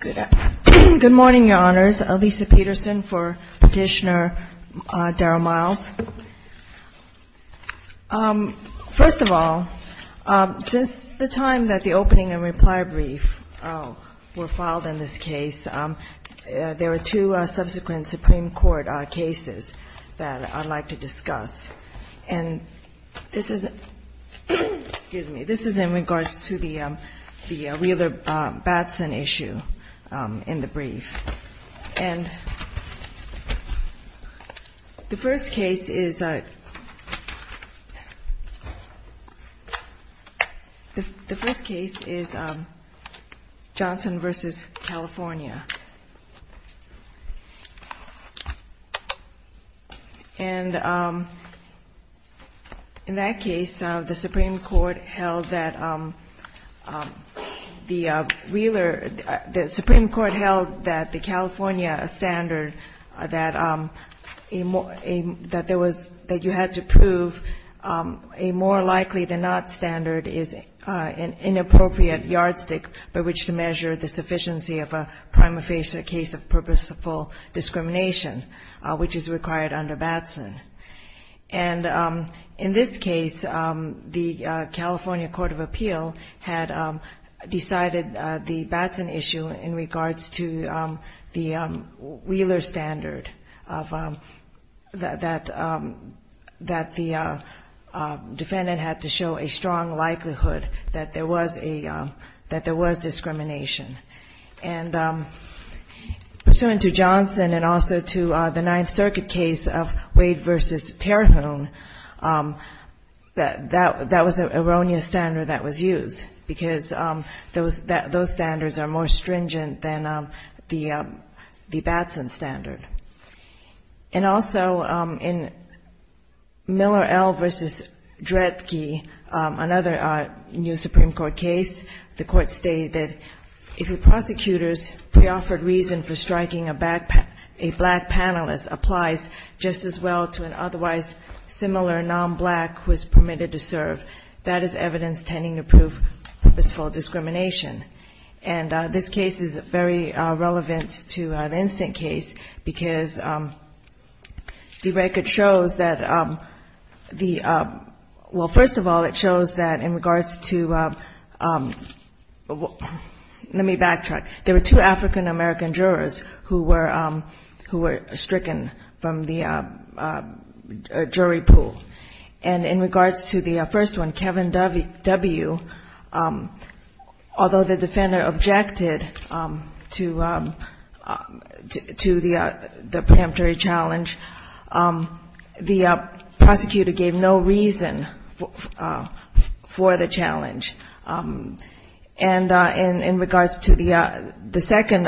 Good morning, Your Honors. Lisa Peterson for Petitioner Daryl Miles. First of all, since the time that the opening and reply brief were filed in this case, there were two subsequent Supreme Court cases that I'd like to discuss. And this is in regards to the Wheeler-Batson issue in the brief. And the first case is Johnson v. California. And in that case, the Supreme Court held that the Wheeler — the Supreme Court held that the California standard, that there was — that you had to prove a more likely-than-not standard is an inappropriate yardstick by which to measure the sufficiency of a prima facie case of purposeful discrimination, which is required under Batson. And in this case, the California court of appeal had decided the Batson issue in regards to the Wheeler standard, that the defendant had to show a strong And pursuant to Johnson and also to the Ninth Circuit case of Wade v. Terhune, that was an erroneous standard that was used, because those standards are more stringent than the Batson standard. And also, in Miller L. v. Dredge, another new Supreme Court case, the Court stated, if a prosecutor's preoffered reason for striking a black panelist applies just as well to an otherwise similar nonblack who is permitted to serve, that is evidence tending to prove purposeful discrimination. And this case is very relevant to the instant case, because the record shows that the — well, first of all, it shows that in regards to — let me backtrack. There were two African-American jurors who were — who were stricken from the jury pool. And in regards to the first one, Kevin W., although the defender objected to the — to the preemptory challenge, the prosecutor gave no reason for the challenge. And in regards to the second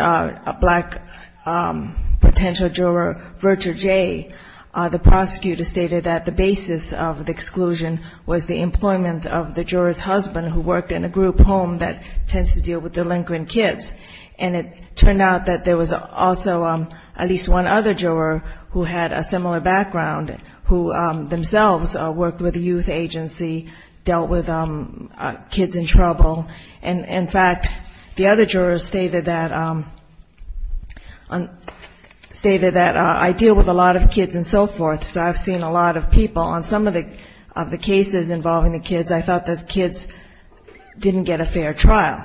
black potential juror, Virtue J., the prosecutor stated that the basis of the exclusion was the employment of the juror's husband who worked in a group home that tends to deal with delinquent kids. And it turned out that there was also at least one other juror who had a similar background, who themselves worked with a youth agency, dealt with kids in trouble. And, in fact, the other juror stated that — stated that, I deal with a lot of kids and so forth, so I've seen a lot of people on some of the cases involving the kids, I thought that the kids didn't get a fair trial.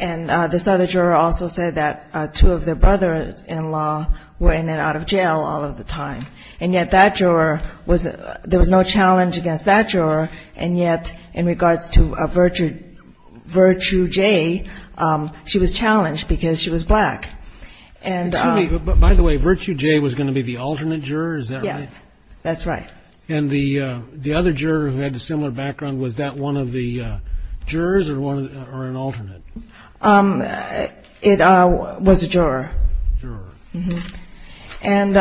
And this other juror also said that two of their brother-in-law were in and out of jail all of the time. And yet that juror was — there was no challenge against that juror, and yet in regards to Virtue J., she was challenged because she was black. Excuse me, but by the way, Virtue J. was going to be the alternate juror, is that right? Yes, that's right. And the other juror who had a similar background, was that one of the jurors or an alternate? It was a juror. Juror. And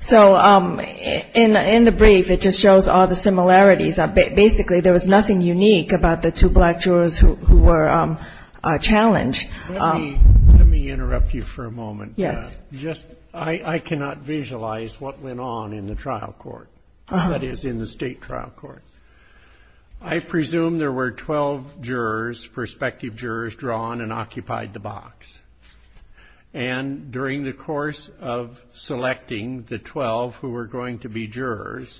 so in the brief, it just shows all the similarities. Basically, there was nothing unique about the two black jurors who were challenged. Let me interrupt you for a moment. Yes. Just — I cannot visualize what went on in the trial court, that is, in the state trial court. I presume there were 12 jurors, prospective jurors, drawn and occupied the box. And during the course of selecting the 12 who were going to be jurors,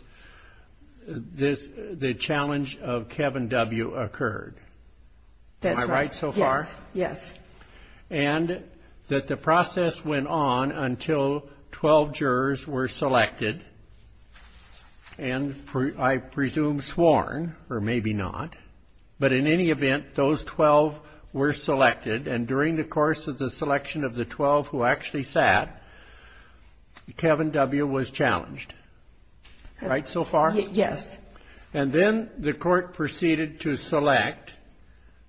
the challenge of Kevin W. occurred. That's right. Am I right so far? Yes, yes. And that the process went on until 12 jurors were selected, and I presume sworn, or maybe not. But in any event, those 12 were selected, and during the course of the selection of the 12 who actually sat, Kevin W. was challenged. Right so far? Yes. And then the court proceeded to select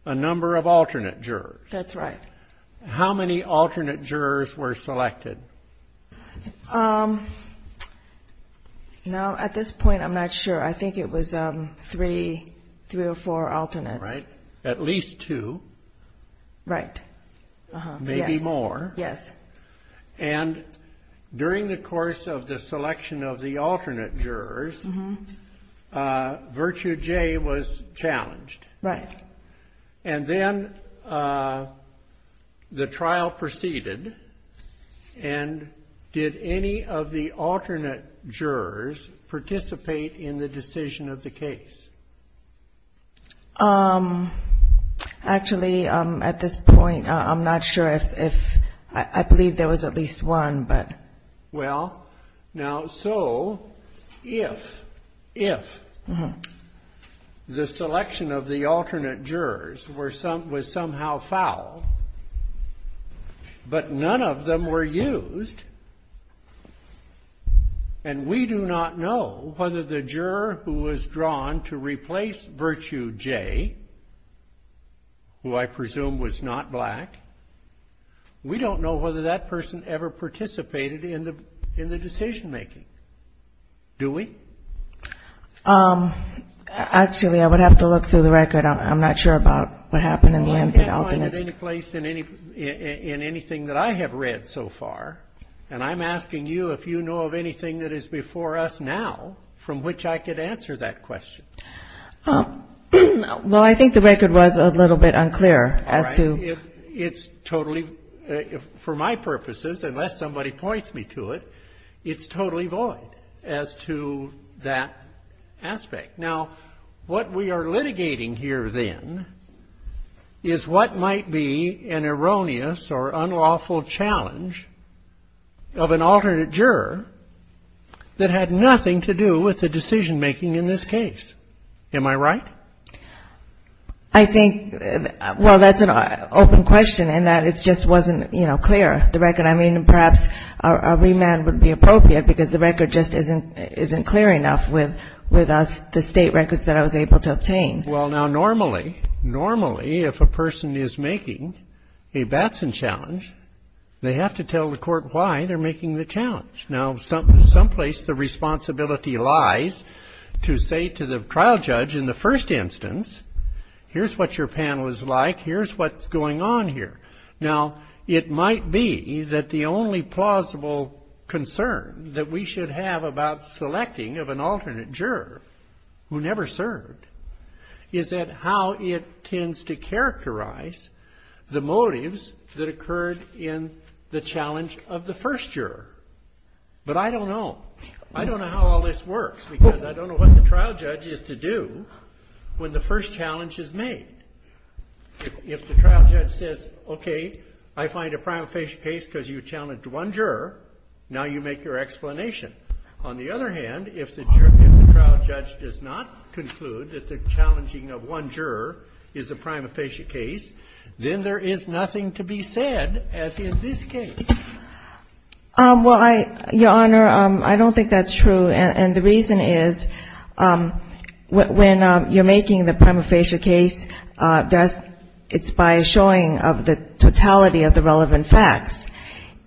a number of alternate jurors. That's right. How many alternate jurors were selected? Now, at this point, I'm not sure. I think it was three or four alternates. Right. At least two. Right. Maybe more. Yes. And during the course of the selection of the alternate jurors, Virtue J. was challenged. Right. And then the trial proceeded, and did any of the alternate jurors participate in the decision of the case? Actually, at this point, I'm not sure if — I believe there was at least one, but — Well, now, so if — if the selection of the alternate jurors was somehow foul, but none of them were used, and we do not know whether the juror who was drawn to replace Virtue J., who I presume was not black, we don't know whether that person ever participated in the decision-making. Do we? Actually, I would have to look through the record. I'm not sure about what happened in the end. I can't find it any place in anything that I have read so far, and I'm asking you if you know of anything that is before us now from which I could answer that question. Well, I think the record was a little bit unclear as to — All right. It's totally — for my purposes, unless somebody points me to it, it's totally void as to that aspect. Now, what we are litigating here, then, is what might be an erroneous or unlawful challenge of an alternate juror that had nothing to do with the decision-making in this case. Am I right? I think — well, that's an open question in that it just wasn't, you know, clear, the record. I mean, perhaps a remand would be appropriate because the record just isn't clear enough with us, the state records that I was able to obtain. Well, now, normally, normally, if a person is making a Batson challenge, they have to tell the court why they're making the challenge. Now, someplace the responsibility lies to say to the trial judge in the first instance, here's what your panel is like, here's what's going on here. Now, it might be that the only plausible concern that we should have about selecting of an alternate juror who never served is that how it tends to characterize the motives that occurred in the challenge of the first juror. But I don't know. I don't know how all this works because I don't know what the trial judge is to do when the first challenge is made. If the trial judge says, okay, I find a prima facie case because you challenged one juror, now you make your explanation. On the other hand, if the trial judge does not conclude that the challenging of one juror is a prima facie case, then there is nothing to be said, as in this case. Well, Your Honor, I don't think that's true. And the reason is when you're making the prima facie case, it's by a showing of the totality of the relevant facts.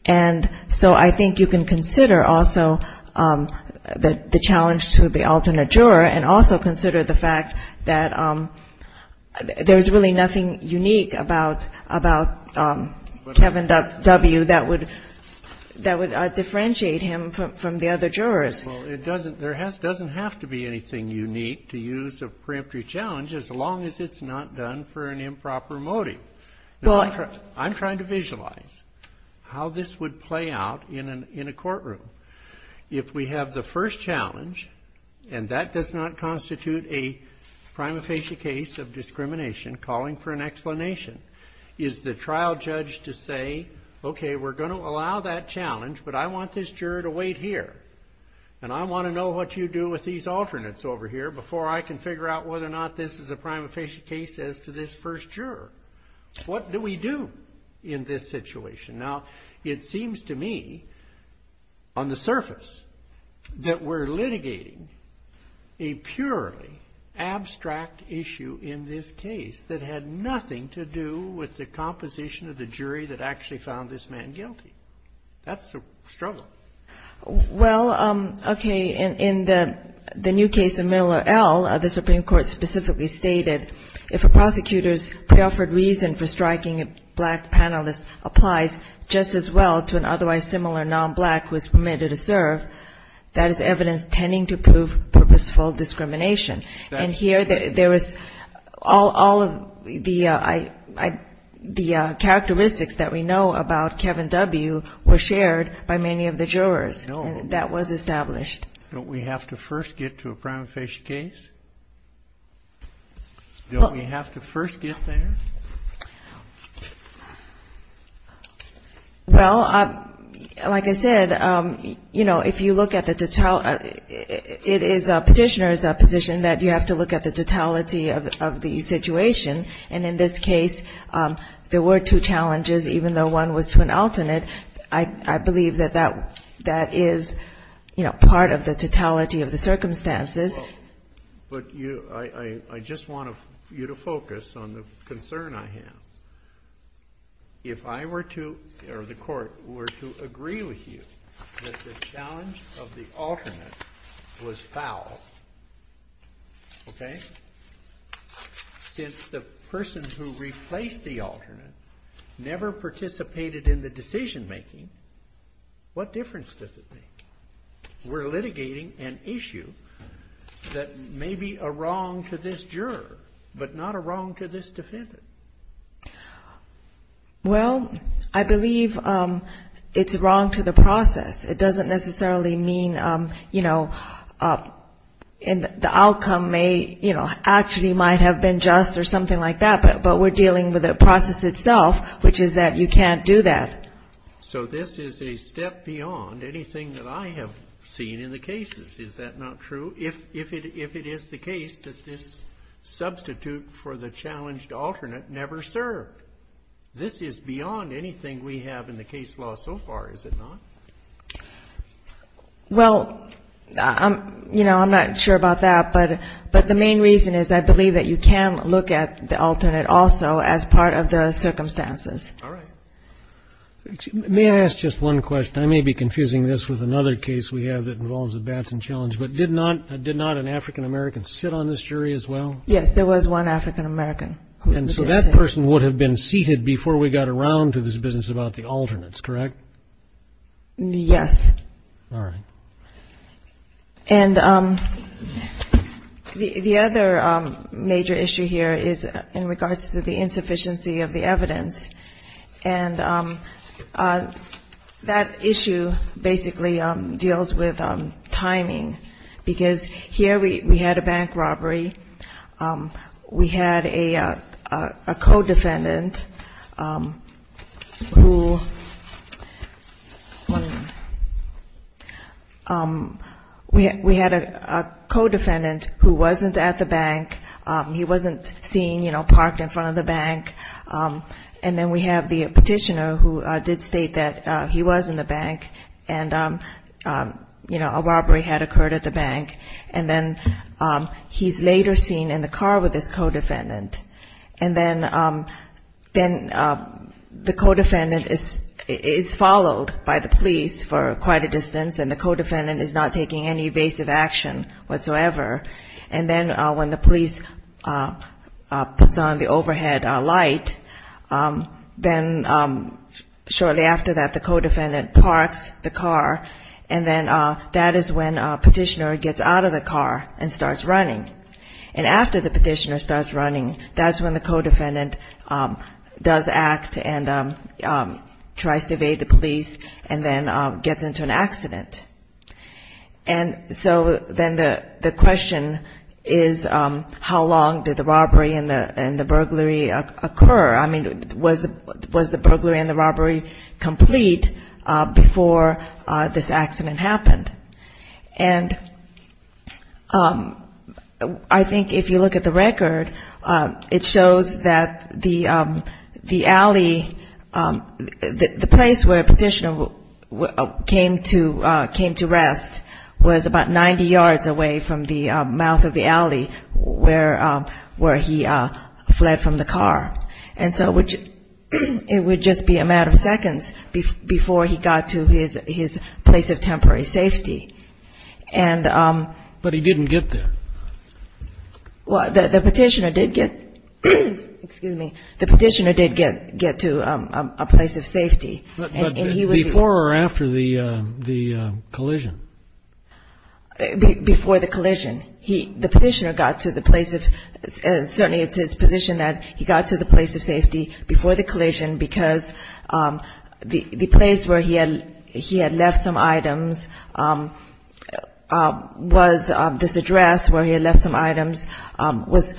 And so I think you can consider also the challenge to the alternate juror, and also consider the fact that there's really nothing unique about Kevin W. that would differentiate him from the other jurors. Well, it doesn't. There doesn't have to be anything unique to use a preemptory challenge as long as it's not done for an improper motive. I'm trying to visualize how this would play out in a courtroom. If we have the first challenge, and that does not constitute a prima facie case of discrimination, calling for an explanation, is the trial judge to say, okay, we're going to allow that challenge, but I want this juror to wait here, and I want to know what you do with these alternates over here before I can figure out whether or not this is a prima facie case as to this first juror. What do we do in this situation? Now, it seems to me on the surface that we're litigating a purely abstract issue in this case that had nothing to do with the composition of the jury that actually found this man guilty. That's a struggle. Well, okay. In the new case of Miller L., the Supreme Court specifically stated, if a prosecutor's preoffered reason for striking a black panelist applies just as well to an otherwise similar nonblack who is permitted to serve, that is evidence tending to prove purposeful discrimination. And here there was all of the characteristics that we know about Kevin W. were shared by many of the jurors. No. And that was established. Don't we have to first get to a prima facie case? Don't we have to first get there? Well, like I said, you know, if you look at the totality, it is Petitioner's position that you have to look at the totality of the situation. And in this case, there were two challenges, even though one was to an alternate. I believe that that is, you know, part of the totality of the circumstances. Well, but I just want you to focus on the concern I have. If I were to or the Court were to agree with you that the challenge of the alternate was foul, okay, since the person who replaced the alternate never participated in the decision-making, what difference does it make? We're litigating an issue that may be a wrong to this juror, but not a wrong to this defendant. Well, I believe it's wrong to the process. It doesn't necessarily mean, you know, the outcome may, you know, actually might have been just or something like that, but we're dealing with the process itself, which is that you can't do that. So this is a step beyond anything that I have seen in the cases, is that not true? If it is the case that this substitute for the challenged alternate never served, this is beyond anything we have in the case law so far, is it not? Well, you know, I'm not sure about that, but the main reason is I believe that you can look at the alternate also as part of the circumstances. All right. May I ask just one question? I may be confusing this with another case we have that involves a Batson challenge, but did not an African-American sit on this jury as well? Yes, there was one African-American. And so that person would have been seated before we got around to this business about the alternates, correct? Yes. All right. And the other major issue here is in regards to the insufficiency of the evidence. And that issue basically deals with timing, because here we had a bank robbery. We had a co-defendant who wasn't at the bank. He wasn't seen, you know, parked in front of the bank. And then we have the petitioner who did state that he was in the bank and, you know, he's later seen in the car with his co-defendant, and then the co-defendant is followed by the police for quite a distance, and the co-defendant is not taking any evasive action whatsoever. And then when the police puts on the overhead light, then shortly after that the co-defendant parks the car, and then that is when a petitioner gets out of the car and starts running. And after the petitioner starts running, that's when the co-defendant does act and tries to evade the police and then gets into an accident. And so then the question is how long did the robbery and the burglary occur? I mean, was the burglary and the robbery complete before this accident happened? And I think if you look at the record, it shows that the alley, the place where a petitioner came to rest was about 90 yards away from the mouth of the alley where he fled from the car. And so it would just be a matter of seconds before he got to his place of temporary safety. And the petitioner did get to a place of safety. And he was the one. But before or after the collision? Before the collision. The petitioner got to the place of, certainly it's his position that he got to the place of safety before the collision because the place where he had left some items was this address where he had left some items was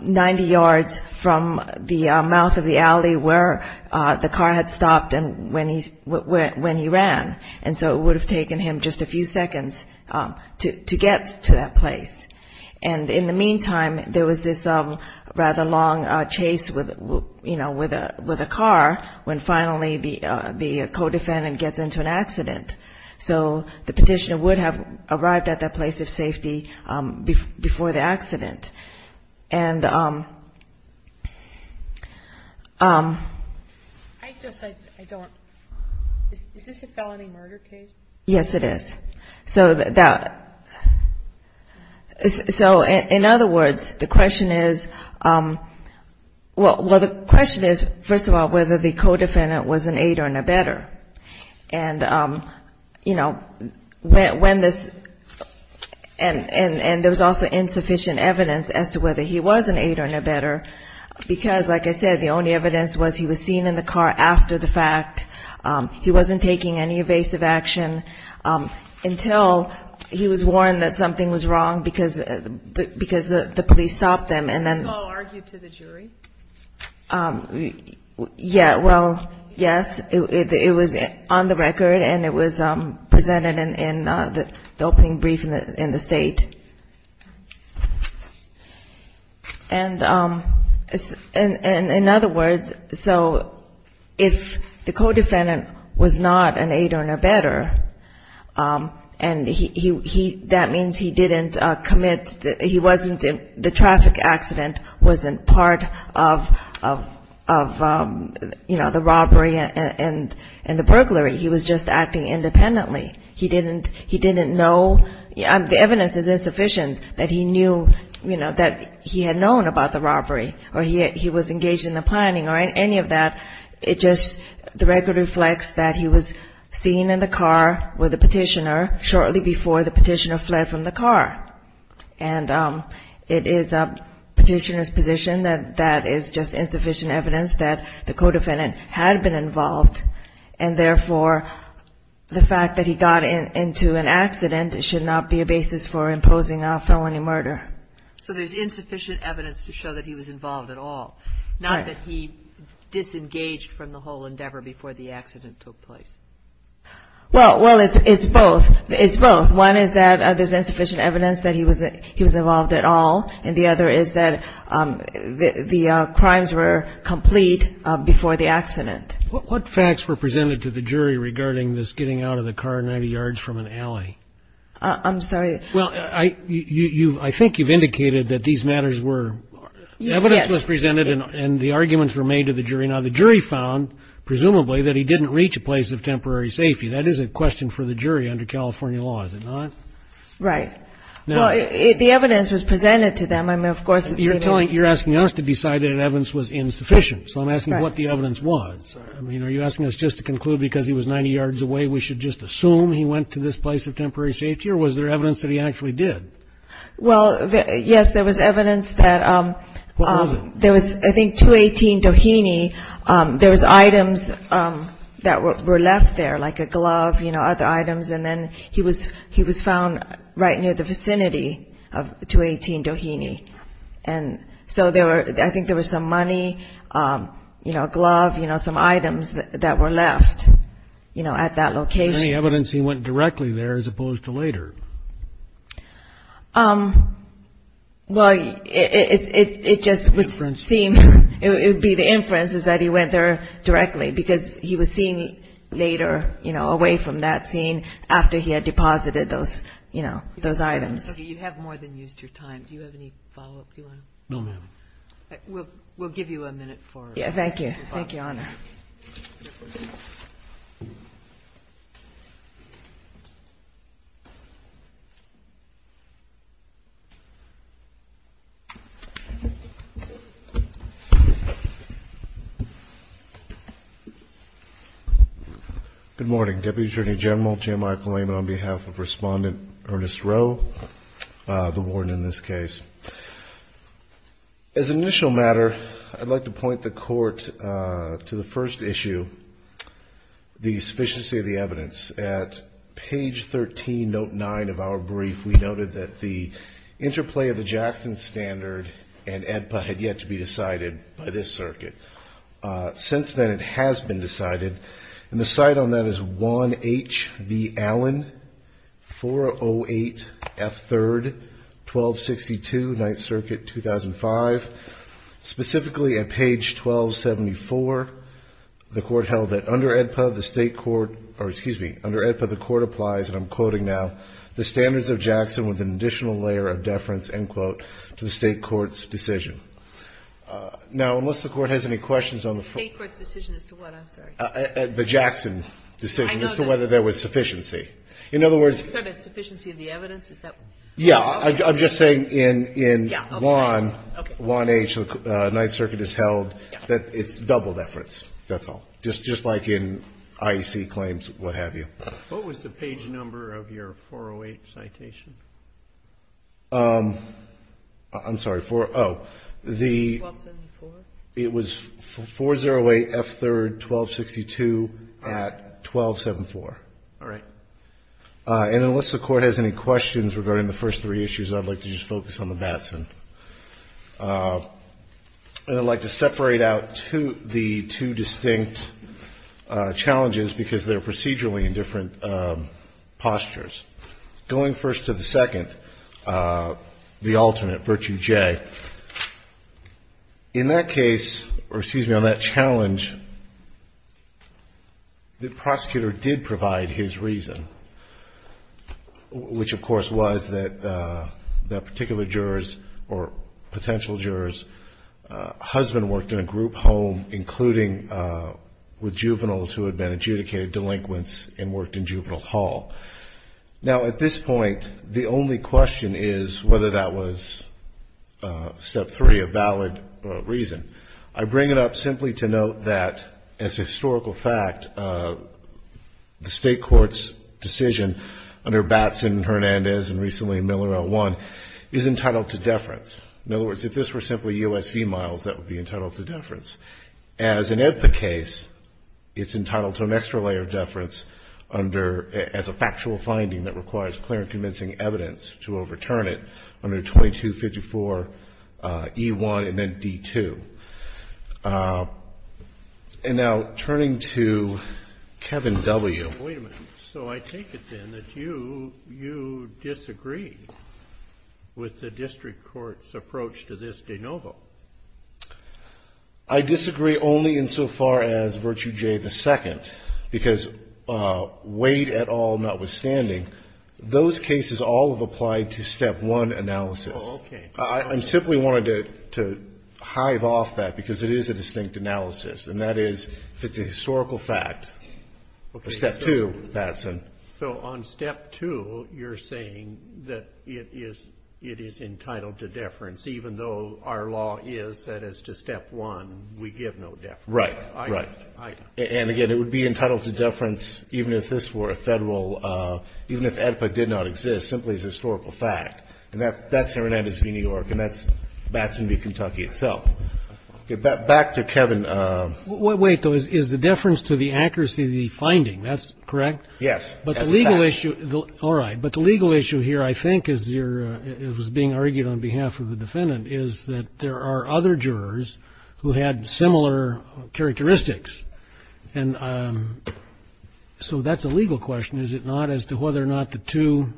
90 yards from the mouth of the alley where the car had stopped. And when he ran. And so it would have taken him just a few seconds to get to that place. And in the meantime, there was this rather long chase with a car when finally the co-defendant gets into an accident. So the petitioner would have arrived at that place of safety before the accident. And I guess I don't, is this a felony murder case? Yes, it is. So in other words, the question is, well, the question is, first of all, whether the co-defendant was an aid or an abettor. And, you know, when this, and there was also insufficient evidence that the co-defendant was an aid or an abettor. And there was insufficient evidence as to whether he was an aid or an abettor, because, like I said, the only evidence was he was seen in the car after the fact. He wasn't taking any evasive action until he was warned that something was wrong because the police stopped him. And then. Yeah, well, yes, it was on the record and it was presented in the opening brief in the state. And in other words, so if the co-defendant was not an aid or an abettor, and he, that means he didn't commit, he wasn't, the traffic accident wasn't part of, you know, the robbery and the burglary. He was just acting independently. He didn't, he didn't know, the evidence is insufficient that he knew, you know, that he had known about the robbery or he was engaged in the planning or any of that. It just, the record reflects that he was seen in the car with a petitioner shortly before the petitioner fled from the car. And it is a petitioner's position that that is just insufficient evidence that the co-defendant had been involved. And therefore, the fact that he got into an accident should not be a basis for imposing a felony murder. So there's insufficient evidence to show that he was involved at all, not that he disengaged from the whole endeavor before the accident took place. Well, it's both. One is that there's insufficient evidence that he was involved at all, and the other is that the crimes were complete before the accident. And the facts were presented to the jury regarding this getting out of the car 90 yards from an alley. I'm sorry. Well, I think you've indicated that these matters were, evidence was presented and the arguments were made to the jury. Now, the jury found, presumably, that he didn't reach a place of temporary safety. That is a question for the jury under California law, is it not? Right. Well, the evidence was presented to them. I mean, of course, you're telling, you're asking us to decide that evidence was insufficient. So I'm asking what the evidence was. I mean, are you asking us just to conclude because he was 90 yards away, we should just assume he went to this place of temporary safety or was there evidence that he actually did? Well, yes, there was evidence that there was, I think, 218 Doheny, there was items that were left there, like a glove, you know, other items. And then he was found right near the vicinity of 218 Doheny. And so there were, I think there was some money, you know, a glove, you know, some items that were left, you know, at that location. Any evidence he went directly there as opposed to later? Well, it just would seem, it would be the inference is that he went there directly because he was seen later, you know, away from that scene after he had deposited those, you know, those items. You have more than used your time. Do you have any follow-up? Do you want to? No, ma'am. Thank you. Good morning, Deputy Attorney General J. Michael Lehman on behalf of Respondent Ernest Rowe, the warden in this case. As an initial matter, I'd like to point the Court to the first issue, the sufficiency of the evidence. At page 13, note 9 of our brief, we noted that the interplay of the Jackson Standard and AEDPA had yet to be decided by this circuit. Since then, it has been decided, and the site on that is 1 H. B. Allen, 408 F. 3rd, 1262, 9th Circuit, 2005. Specifically at page 1274, the Court held that under AEDPA, the state court, or excuse me, under the state court, the state court, under AEDPA, the Court applies, and I'm quoting now, the standards of Jackson with an additional layer of deference, end quote, to the state court's decision. Now, unless the Court has any questions on the front. The state court's decision as to what, I'm sorry. The Jackson decision as to whether there was sufficiency. In other words. You're talking about sufficiency of the evidence, is that? Yeah, I'm just saying in 1 H., 9th Circuit has held that it's double deference, that's all. Just like in IEC claims, what have you. What was the page number of your 408 citation? I'm sorry, 4, oh. 1274? It was 408 F. 3rd, 1262 at 1274. All right. And unless the Court has any questions regarding the first three issues, I'd like to just focus on the Batson. And I'd like to separate out the two distinct challenges, because they're procedurally in different postures. Going first to the second, the alternate, Virtue J. In that case, or excuse me, on that challenge, the prosecutor did provide his reason. Which, of course, was that that particular juror's, or potential juror's, husband worked in a group home, including with juveniles who had been adjudicated delinquents and worked in Juvenile Hall. Now, at this point, the only question is whether that was Step 3, a valid reason. I bring it up simply to note that, as a historical fact, the State Courts, the State Judiciary, in their decision under Batson, Hernandez, and recently Miller L. 1, is entitled to deference. In other words, if this were simply U.S. females, that would be entitled to deference. As an EBPA case, it's entitled to an extra layer of deference under, as a factual finding that requires clear and convincing evidence to overturn it, under 2254 E. 1 and then D. 2. And now, turning to Kevin W. Wait a minute. So I take it, then, that you disagree with the District Court's approach to this de novo? I disagree only insofar as Virtue J. the second. Because, Wade et al. notwithstanding, those cases all have applied to Step 1 analysis. I simply wanted to hive off that, because it is a distinct analysis. And that is, if it's a historical fact, Step 2, Batson. So on Step 2, you're saying that it is entitled to deference, even though our law is that as to Step 1, we give no deference. Right. And, again, it would be entitled to deference, even if this were a Federal, even if EBPA did not exist, simply as a historical fact. And that's Hernandez v. New York, and that's Batson v. Kentucky itself. Back to Kevin. Wait, though, is the deference to the accuracy of the finding, that's correct? Yes. But the legal issue here, I think, as was being argued on behalf of the defendant, is that there are other jurors who had similar characteristics. And so that's a legal question, is it not, as to whether or not the two,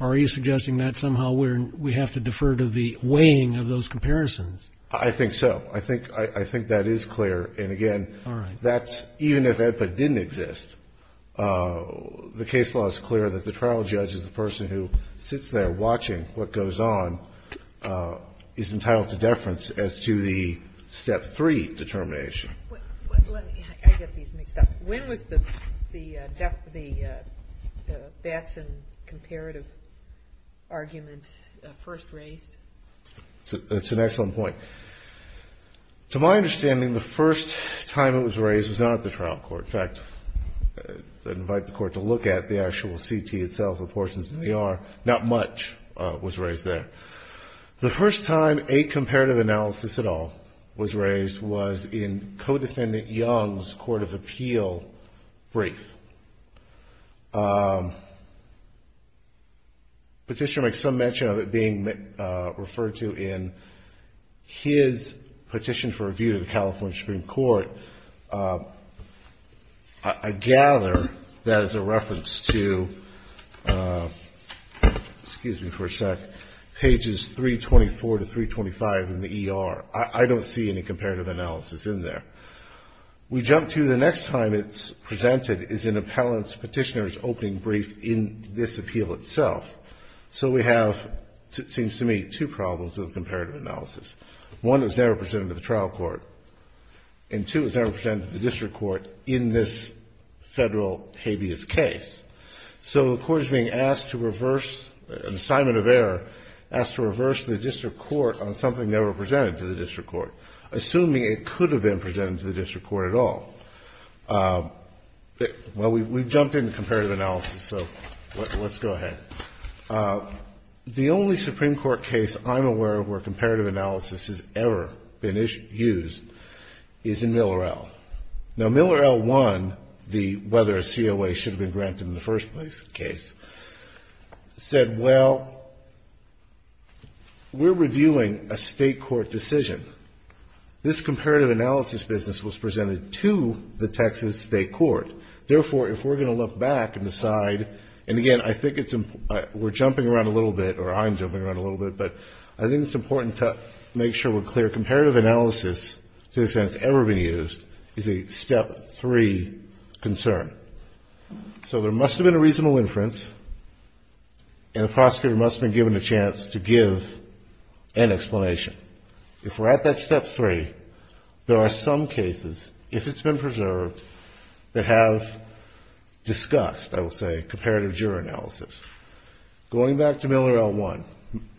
are you suggesting that somehow we have to defer to the weighing of those comparisons? I think so. I think that is clear, and, again, that's, even if EBPA didn't exist, the case law is clear that the trial judge is the person who sits there watching what goes on, is entitled to deference as to the Step 3 determination. I get these mixed up. When was the Batson comparative argument first raised? That's an excellent point. To my understanding, the first time it was raised was not at the trial court. In fact, I'd invite the Court to look at the actual CT itself, the portions that they are. Not much was raised there. The first time a comparative analysis at all was raised was in Co-Defendant Young's Court of Appeal brief. Petitioner makes some mention of it being referred to in his petition for review to the California Supreme Court. I gather that is a reference to, excuse me for a sec, pages 324 to 325 in the ER. I don't see any comparative analysis in there. We jump to the next time it's presented is in Appellant Petitioner's opening brief in this appeal itself. So we have, it seems to me, two problems with comparative analysis. One, it was never presented to the trial court, and two, it was never presented to the district court in this Federal habeas case. So the Court is being asked to reverse, an assignment of error, asked to reverse the district court on something never presented to the district court, assuming it could have been presented to the district court at all. Well, we've jumped into comparative analysis, so let's go ahead. The only Supreme Court case I'm aware of where comparative analysis has ever been used is in Miller L. Now, Miller L. 1, the whether a COA should have been granted in the first place case, said, well, we're reviewing a state court decision. This comparative analysis business was presented to the Texas state court. Therefore, if we're going to look back and decide, and again, I think it's, we're jumping around a little bit, or I'm jumping around a little bit, but I think it's important to make sure we're clear. Comparative analysis, to the extent it's ever been used, is a step three concern. So there must have been a reasonable inference, and the prosecutor must have been given a chance to give an explanation. If we're at that step three, there are some cases, if it's been preserved, that have discussed, I will say, comparative juror analysis. Going back to Miller L. 1,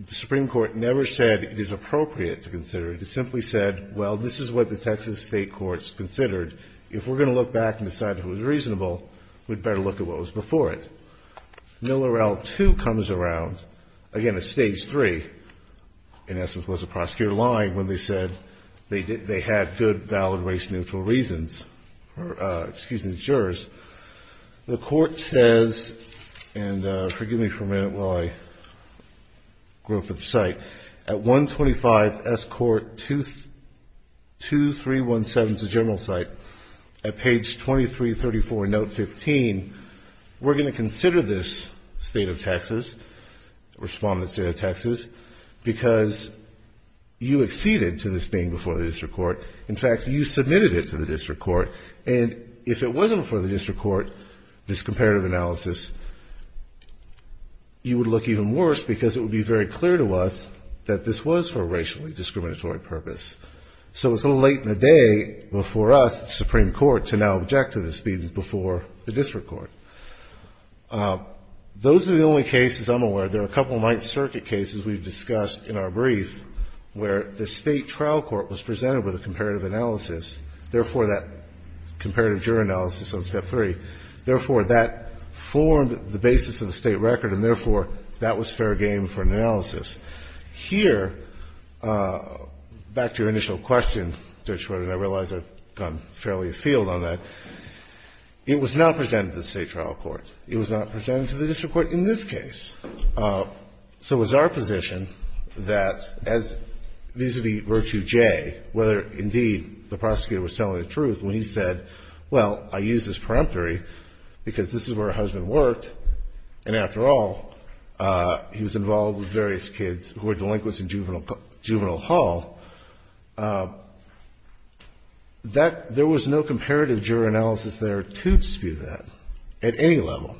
the Supreme Court never said it is appropriate to consider it. It simply said, well, this is what the Texas state court's considered. If we're going to look back and decide if it was reasonable, we'd better look at what was before it. Miller L. 2 comes around, again, at stage three, in essence, was a prosecutor lying when they said they had good, valid, race-neutral reasons for, excuse me, jurors. The court says, and forgive me for a minute while I go over the site, at 125 S. Court 2317, it's a general site, at page 2334, note 15, we're going to consider the state of Texas, respondent state of Texas, because you acceded to this being before the district court. In fact, you submitted it to the district court, and if it wasn't before the district court, this comparative analysis, you would look even worse, because it would be very clear to us that this was for a racially discriminatory purpose. So it's a little late in the day for us, the Supreme Court, to now object to this being before the district court. Those are the only cases I'm aware of. There are a couple of Ninth Circuit cases we've discussed in our brief where the State trial court was presented with a comparative analysis, therefore, that comparative juror analysis on step three, therefore, that formed the basis of the State record, and therefore, that was fair game for an analysis. Here, back to your initial question, Judge Schroeder, and I realize I've gone fairly afield on that, it was not presented to the State trial court. It was not presented to the district court in this case. So it was our position that as vis-a-vis Virtue J, whether indeed the prosecutor was telling the truth, when he said, well, I use this peremptory, because this is where her husband worked, and after all, he was involved with various kids who were delinquents in juvenile hall, that there was no comparative juror analysis there to dispute that at any level.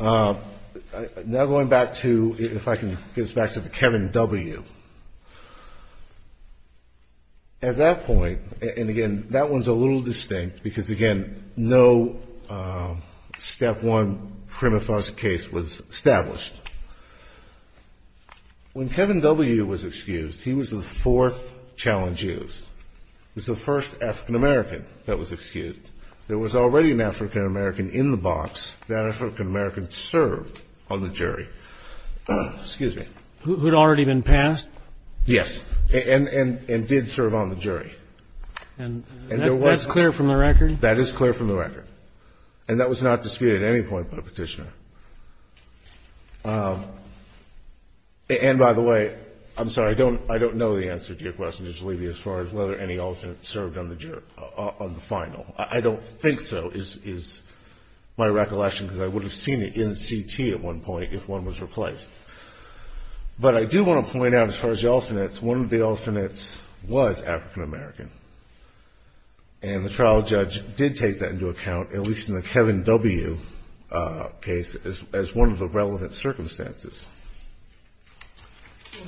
Now going back to, if I can get us back to the Kevin W. At that point, and again, that one's a little distinct, because again, no step one prima facie case was established. When Kevin W. was excused, he was the fourth challenge used. He was the first African-American that was excused. There was already an African-American in the box. That African-American served on the jury. Excuse me. Who had already been passed? Yes. And did serve on the jury. And that's clear from the record? That is clear from the record. And that was not disputed at any point by the Petitioner. And by the way, I'm sorry, I don't know the answer to your question, Mr. Levy, as far as whether any alternates served on the final. I don't think so, is my recollection, because I would have seen it in the CT at one point if one was replaced. But I do want to point out, as far as the alternates, one of the alternates was African-American. And the trial judge did take that into account, at least in the Kevin W. case. As one of the relevant circumstances.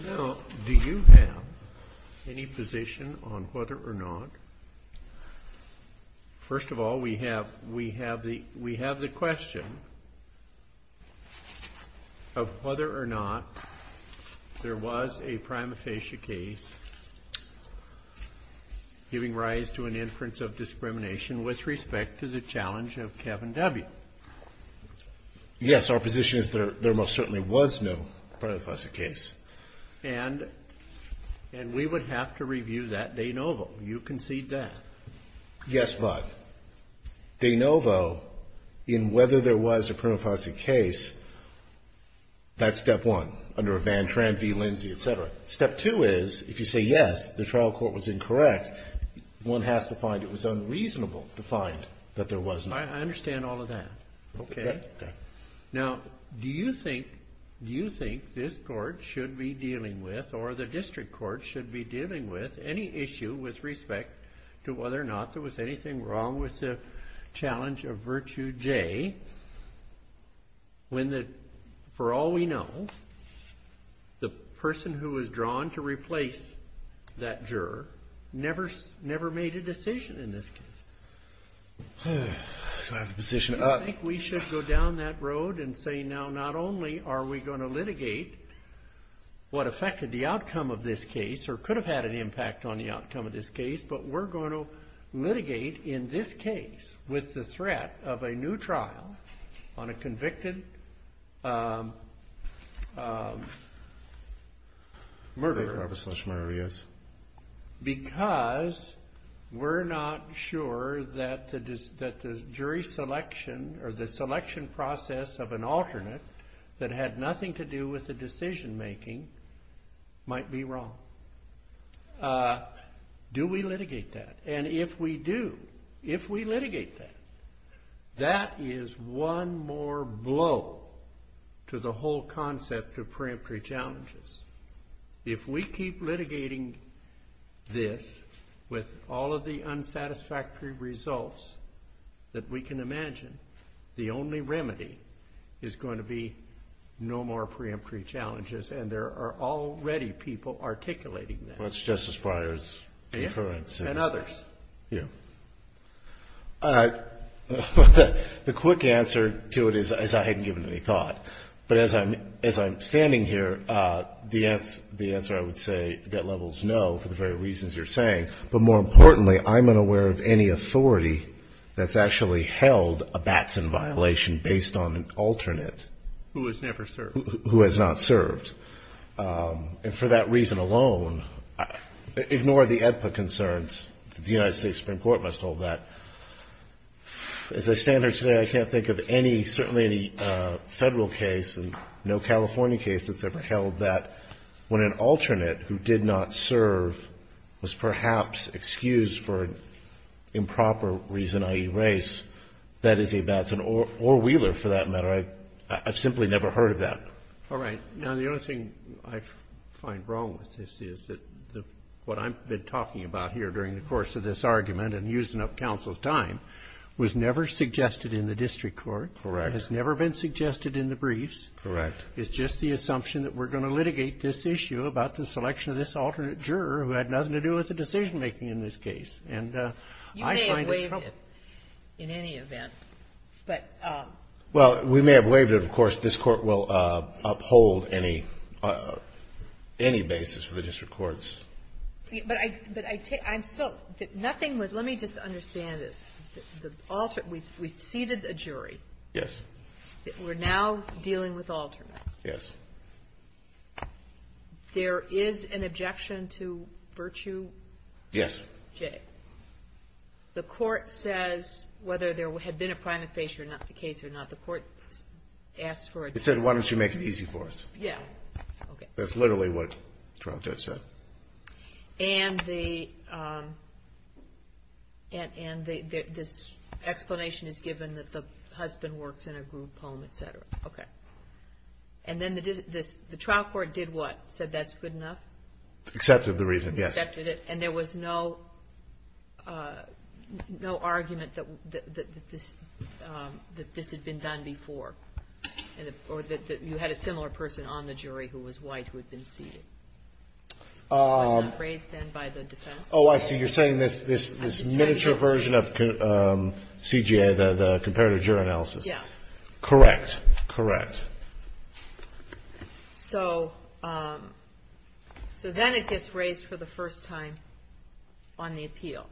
Well, now, do you have any position on whether or not, first of all, we have the question of whether or not there was a prima facie case giving rise to an inference of discrimination with respect to the challenge of Kevin W. Yes, our position is there most certainly was no prima facie case. And we would have to review that de novo. You concede that. Yes, but de novo, in whether there was a prima facie case, that's step one, under a Van Tran v. Lindsay, etc. Step two is, if you say yes, the trial court was incorrect, one has to find it was unreasonable to find that there was no prima facie case. I understand all of that. Now, do you think this court should be dealing with, or the district court should be dealing with, any issue with respect to whether or not there was anything wrong with the challenge of Virtue J. When, for all we know, the person who was drawn to replace that juror never made a decision in this case. Do you think we should go down that road and say, now, not only are we going to litigate what affected the outcome of this case, or could have had an impact on the outcome of this case, but we're going to litigate in this case with the threat of a new trial on a convicted murderer? Because we're not sure that the jury selection, or the selection process of an alternate that had nothing to do with the decision making, might be wrong. Do we litigate that? And if we do, if we litigate that, that is one more blow to the whole concept of preemptory challenges. If we keep litigating this with all of the unsatisfactory results that we can imagine, the only remedy is going to be no more preemptory challenges. And there are already people articulating that. That's Justice Breyer's concurrence. And others. The quick answer to it is I hadn't given it any thought. But as I'm standing here, the answer I would say at that level is no, for the very reasons you're saying. But more importantly, I'm unaware of any authority that's actually held a Batson violation based on an alternate. Who has never served. Who has not served. And for that reason alone, ignore the AEDPA concerns. The United States Supreme Court must hold that. As I stand here today, I can't think of any, certainly any Federal case and no California case that's ever held that when an alternate who did not serve was perhaps excused for improper reason, i.e. race, that is a Batson or Wheeler for that matter. I've simply never heard of that. All right. Now, the only thing I find wrong with this is that what I've been talking about here during the course of this argument and using up counsel's time was never suggested in the district court. Correct. Has never been suggested in the briefs. Correct. It's just the assumption that we're going to litigate this issue about the selection of this alternate juror who had nothing to do with the decision-making in this case. And I find it troubling. I find it troubling in any event. Well, we may have waived it. Of course, this Court will uphold any basis for the district courts. But I'm still, nothing would, let me just understand this. We've seated a jury. Yes. We're now dealing with alternates. Yes. There is an objection to Virtue J. Yes. The Court says, whether there had been a prima facie or not, the case or not, the Court asks for an objection. It said, why don't you make it easy for us? Yeah. Okay. That's literally what the trial judge said. And this explanation is given that the husband works in a group home, et cetera. Okay. And then the trial court did what? Said that's good enough? Accepted the reason, yes. Accepted it. And there was no argument that this had been done before? Or that you had a similar person on the jury who was white who had been seated? Was not raised then by the defense? Oh, I see. You're saying this miniature version of CJA, the comparative jury analysis. Yeah. Correct. Correct. So then it gets raised for the first time on the appeal.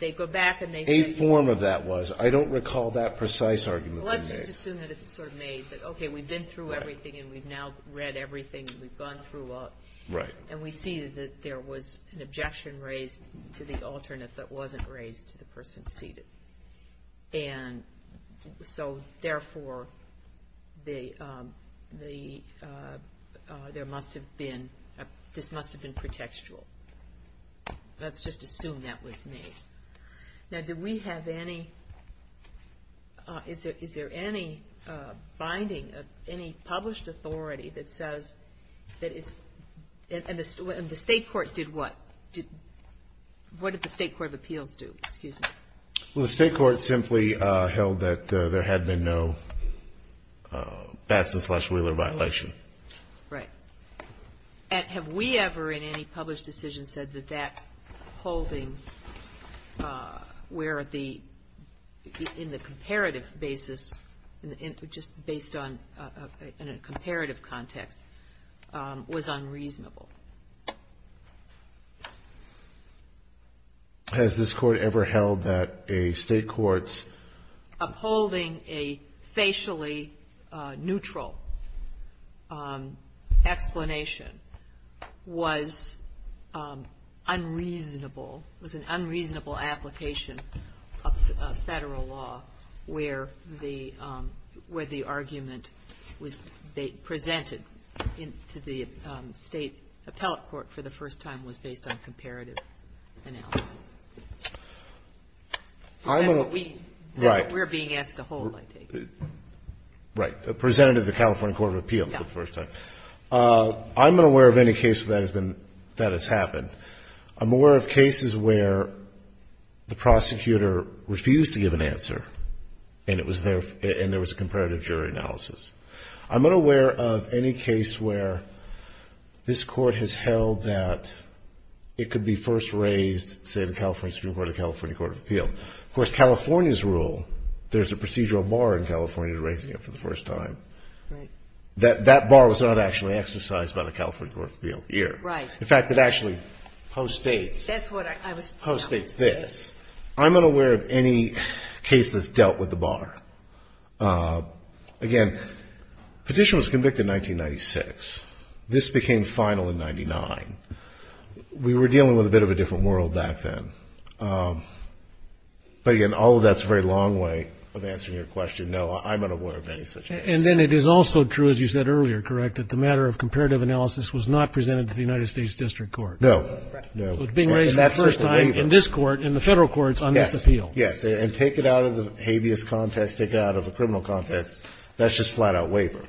They go back and they say. A form of that was. I don't recall that precise argument being made. Well, let's just assume that it's sort of made. Okay, we've been through everything and we've now read everything. We've gone through all. Right. And we see that there was an objection raised to the alternate that wasn't raised to the person seated. And so therefore. The. There must have been. This must have been pretextual. Let's just assume that was me. Now, do we have any. Is there any binding of any published authority that says that it's. And the state court did what? What did the state court of appeals do? Excuse me. Well, the state court simply held that there had been no. That's the slash Wheeler violation. Right. And have we ever in any published decision said that that holding. Where the. In the comparative basis. Just based on a comparative context. Was unreasonable. Has this court ever held that a state courts. Upholding a facially neutral. Explanation. Was. Unreasonable. Was an unreasonable application. Of federal law. Where the. Where the argument. Was. Presented. Into the state. Appellate court for the first time was based on comparative. Analysis. I'm. Right. We're being asked to hold. Right. Presented the California court of appeal. For the first time. I'm unaware of any case that has been. That has happened. I'm aware of cases where. The prosecutor refused to give an answer. And it was there. And there was a comparative jury analysis. I'm unaware of any case where. This court has held that. It could be first raised. Say the California Supreme Court of California court of appeal. Of course, California's rule. There's a procedural bar in California to raising it for the first time. Right. That bar was not actually exercised by the California court of appeal here. Right. In fact, it actually. Post states. That's what I was. Post states this. I'm unaware of any case that's dealt with the bar. Again. Petition was convicted in 1996. This became final in 99. We were dealing with a bit of a different world back then. But, again, all of that's a very long way of answering your question. No, I'm unaware of any such. And then it is also true, as you said earlier, correct? That the matter of comparative analysis was not presented to the United States district court. No. No. Being raised the first time in this court in the federal courts on this appeal. Yes. And take it out of the habeas context. Take it out of the criminal context. That's just flat out waiver.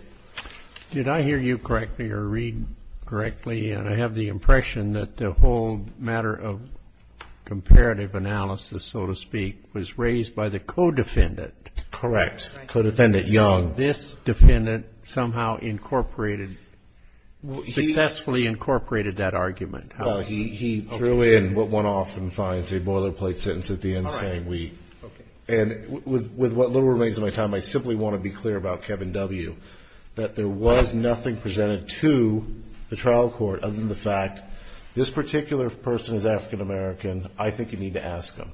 Did I hear you correctly or read correctly? I have the impression that the whole matter of comparative analysis, so to speak, was raised by the co-defendant. Correct. Co-defendant Young. This defendant somehow incorporated, successfully incorporated that argument. He threw in what went off and finds a boilerplate sentence at the end saying we. Okay. And with what little remains of my time, I simply want to be clear about Kevin W. that there was nothing presented to the trial court other than the fact this particular person is African-American. I think you need to ask them.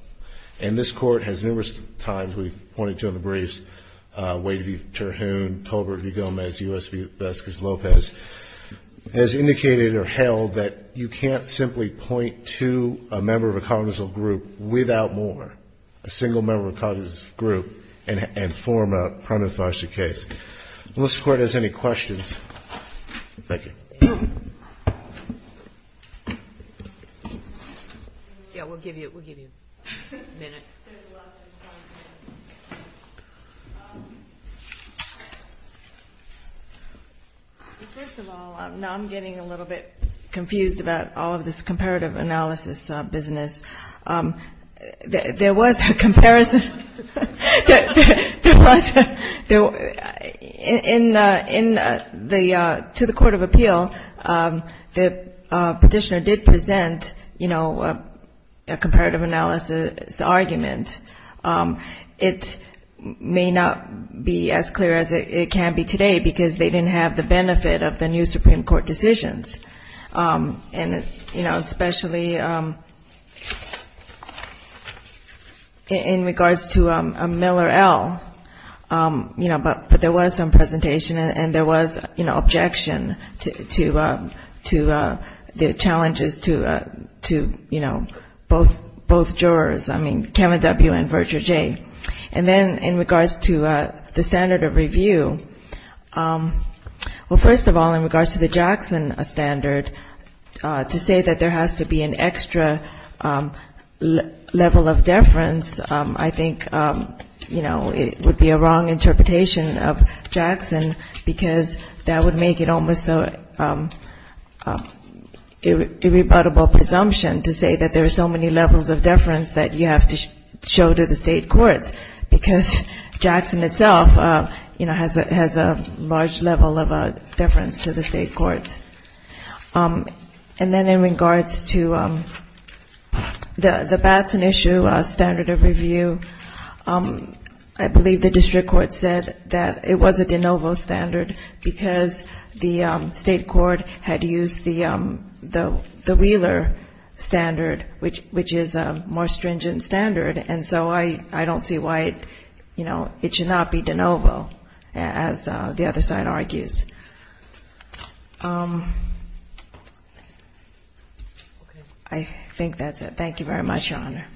And this court has numerous times, we've pointed to in the briefs, Wade v. Terhune, Colbert v. Gomez, U.S. v. Vasquez-Lopez, has indicated or held that you can't simply point to a member of a cognitive group without more, a single member of a cognitive group, and form a prima facie case. Thank you. Unless the Court has any questions. Thank you. Yeah, we'll give you a minute. First of all, I'm getting a little bit confused about all of this comparative analysis business. There was a comparison. To the court of appeal, the Petitioner did present, you know, a comparative analysis argument. It may not be as clear as it can be today because they didn't have the benefit of the new Supreme Court decisions. And, you know, especially in regards to Miller L., you know, but there was some presentation, and there was, you know, objection to the challenges to, you know, both jurors, I mean, Kevin W. and Virgil J. And then in regards to the standard of review, well, first of all, in regards to the Jackson standard, to say that there has to be an extra level of deference, I think, you know, it would be a wrong interpretation of Jackson, because that would make it almost an irrebuttable presumption to say that there are so many levels of deference that you have to show to the state courts, because Jackson itself, you know, has a large level of deference to the state courts. And then in regards to the Batson issue, standard of review, I believe the district court said that it was a de novo standard, because the state court had used the Wheeler standard, which is a more stringent standard. And so I don't see why, you know, it should not be de novo, as the other side argues. I think that's it. Thank you very much, Your Honor.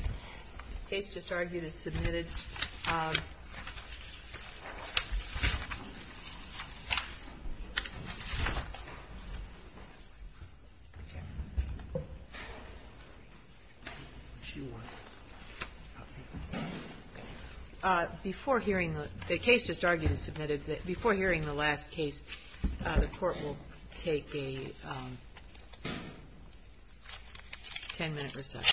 The case just argued is submitted. Before hearing the last case, the Court will take a 10-minute recess.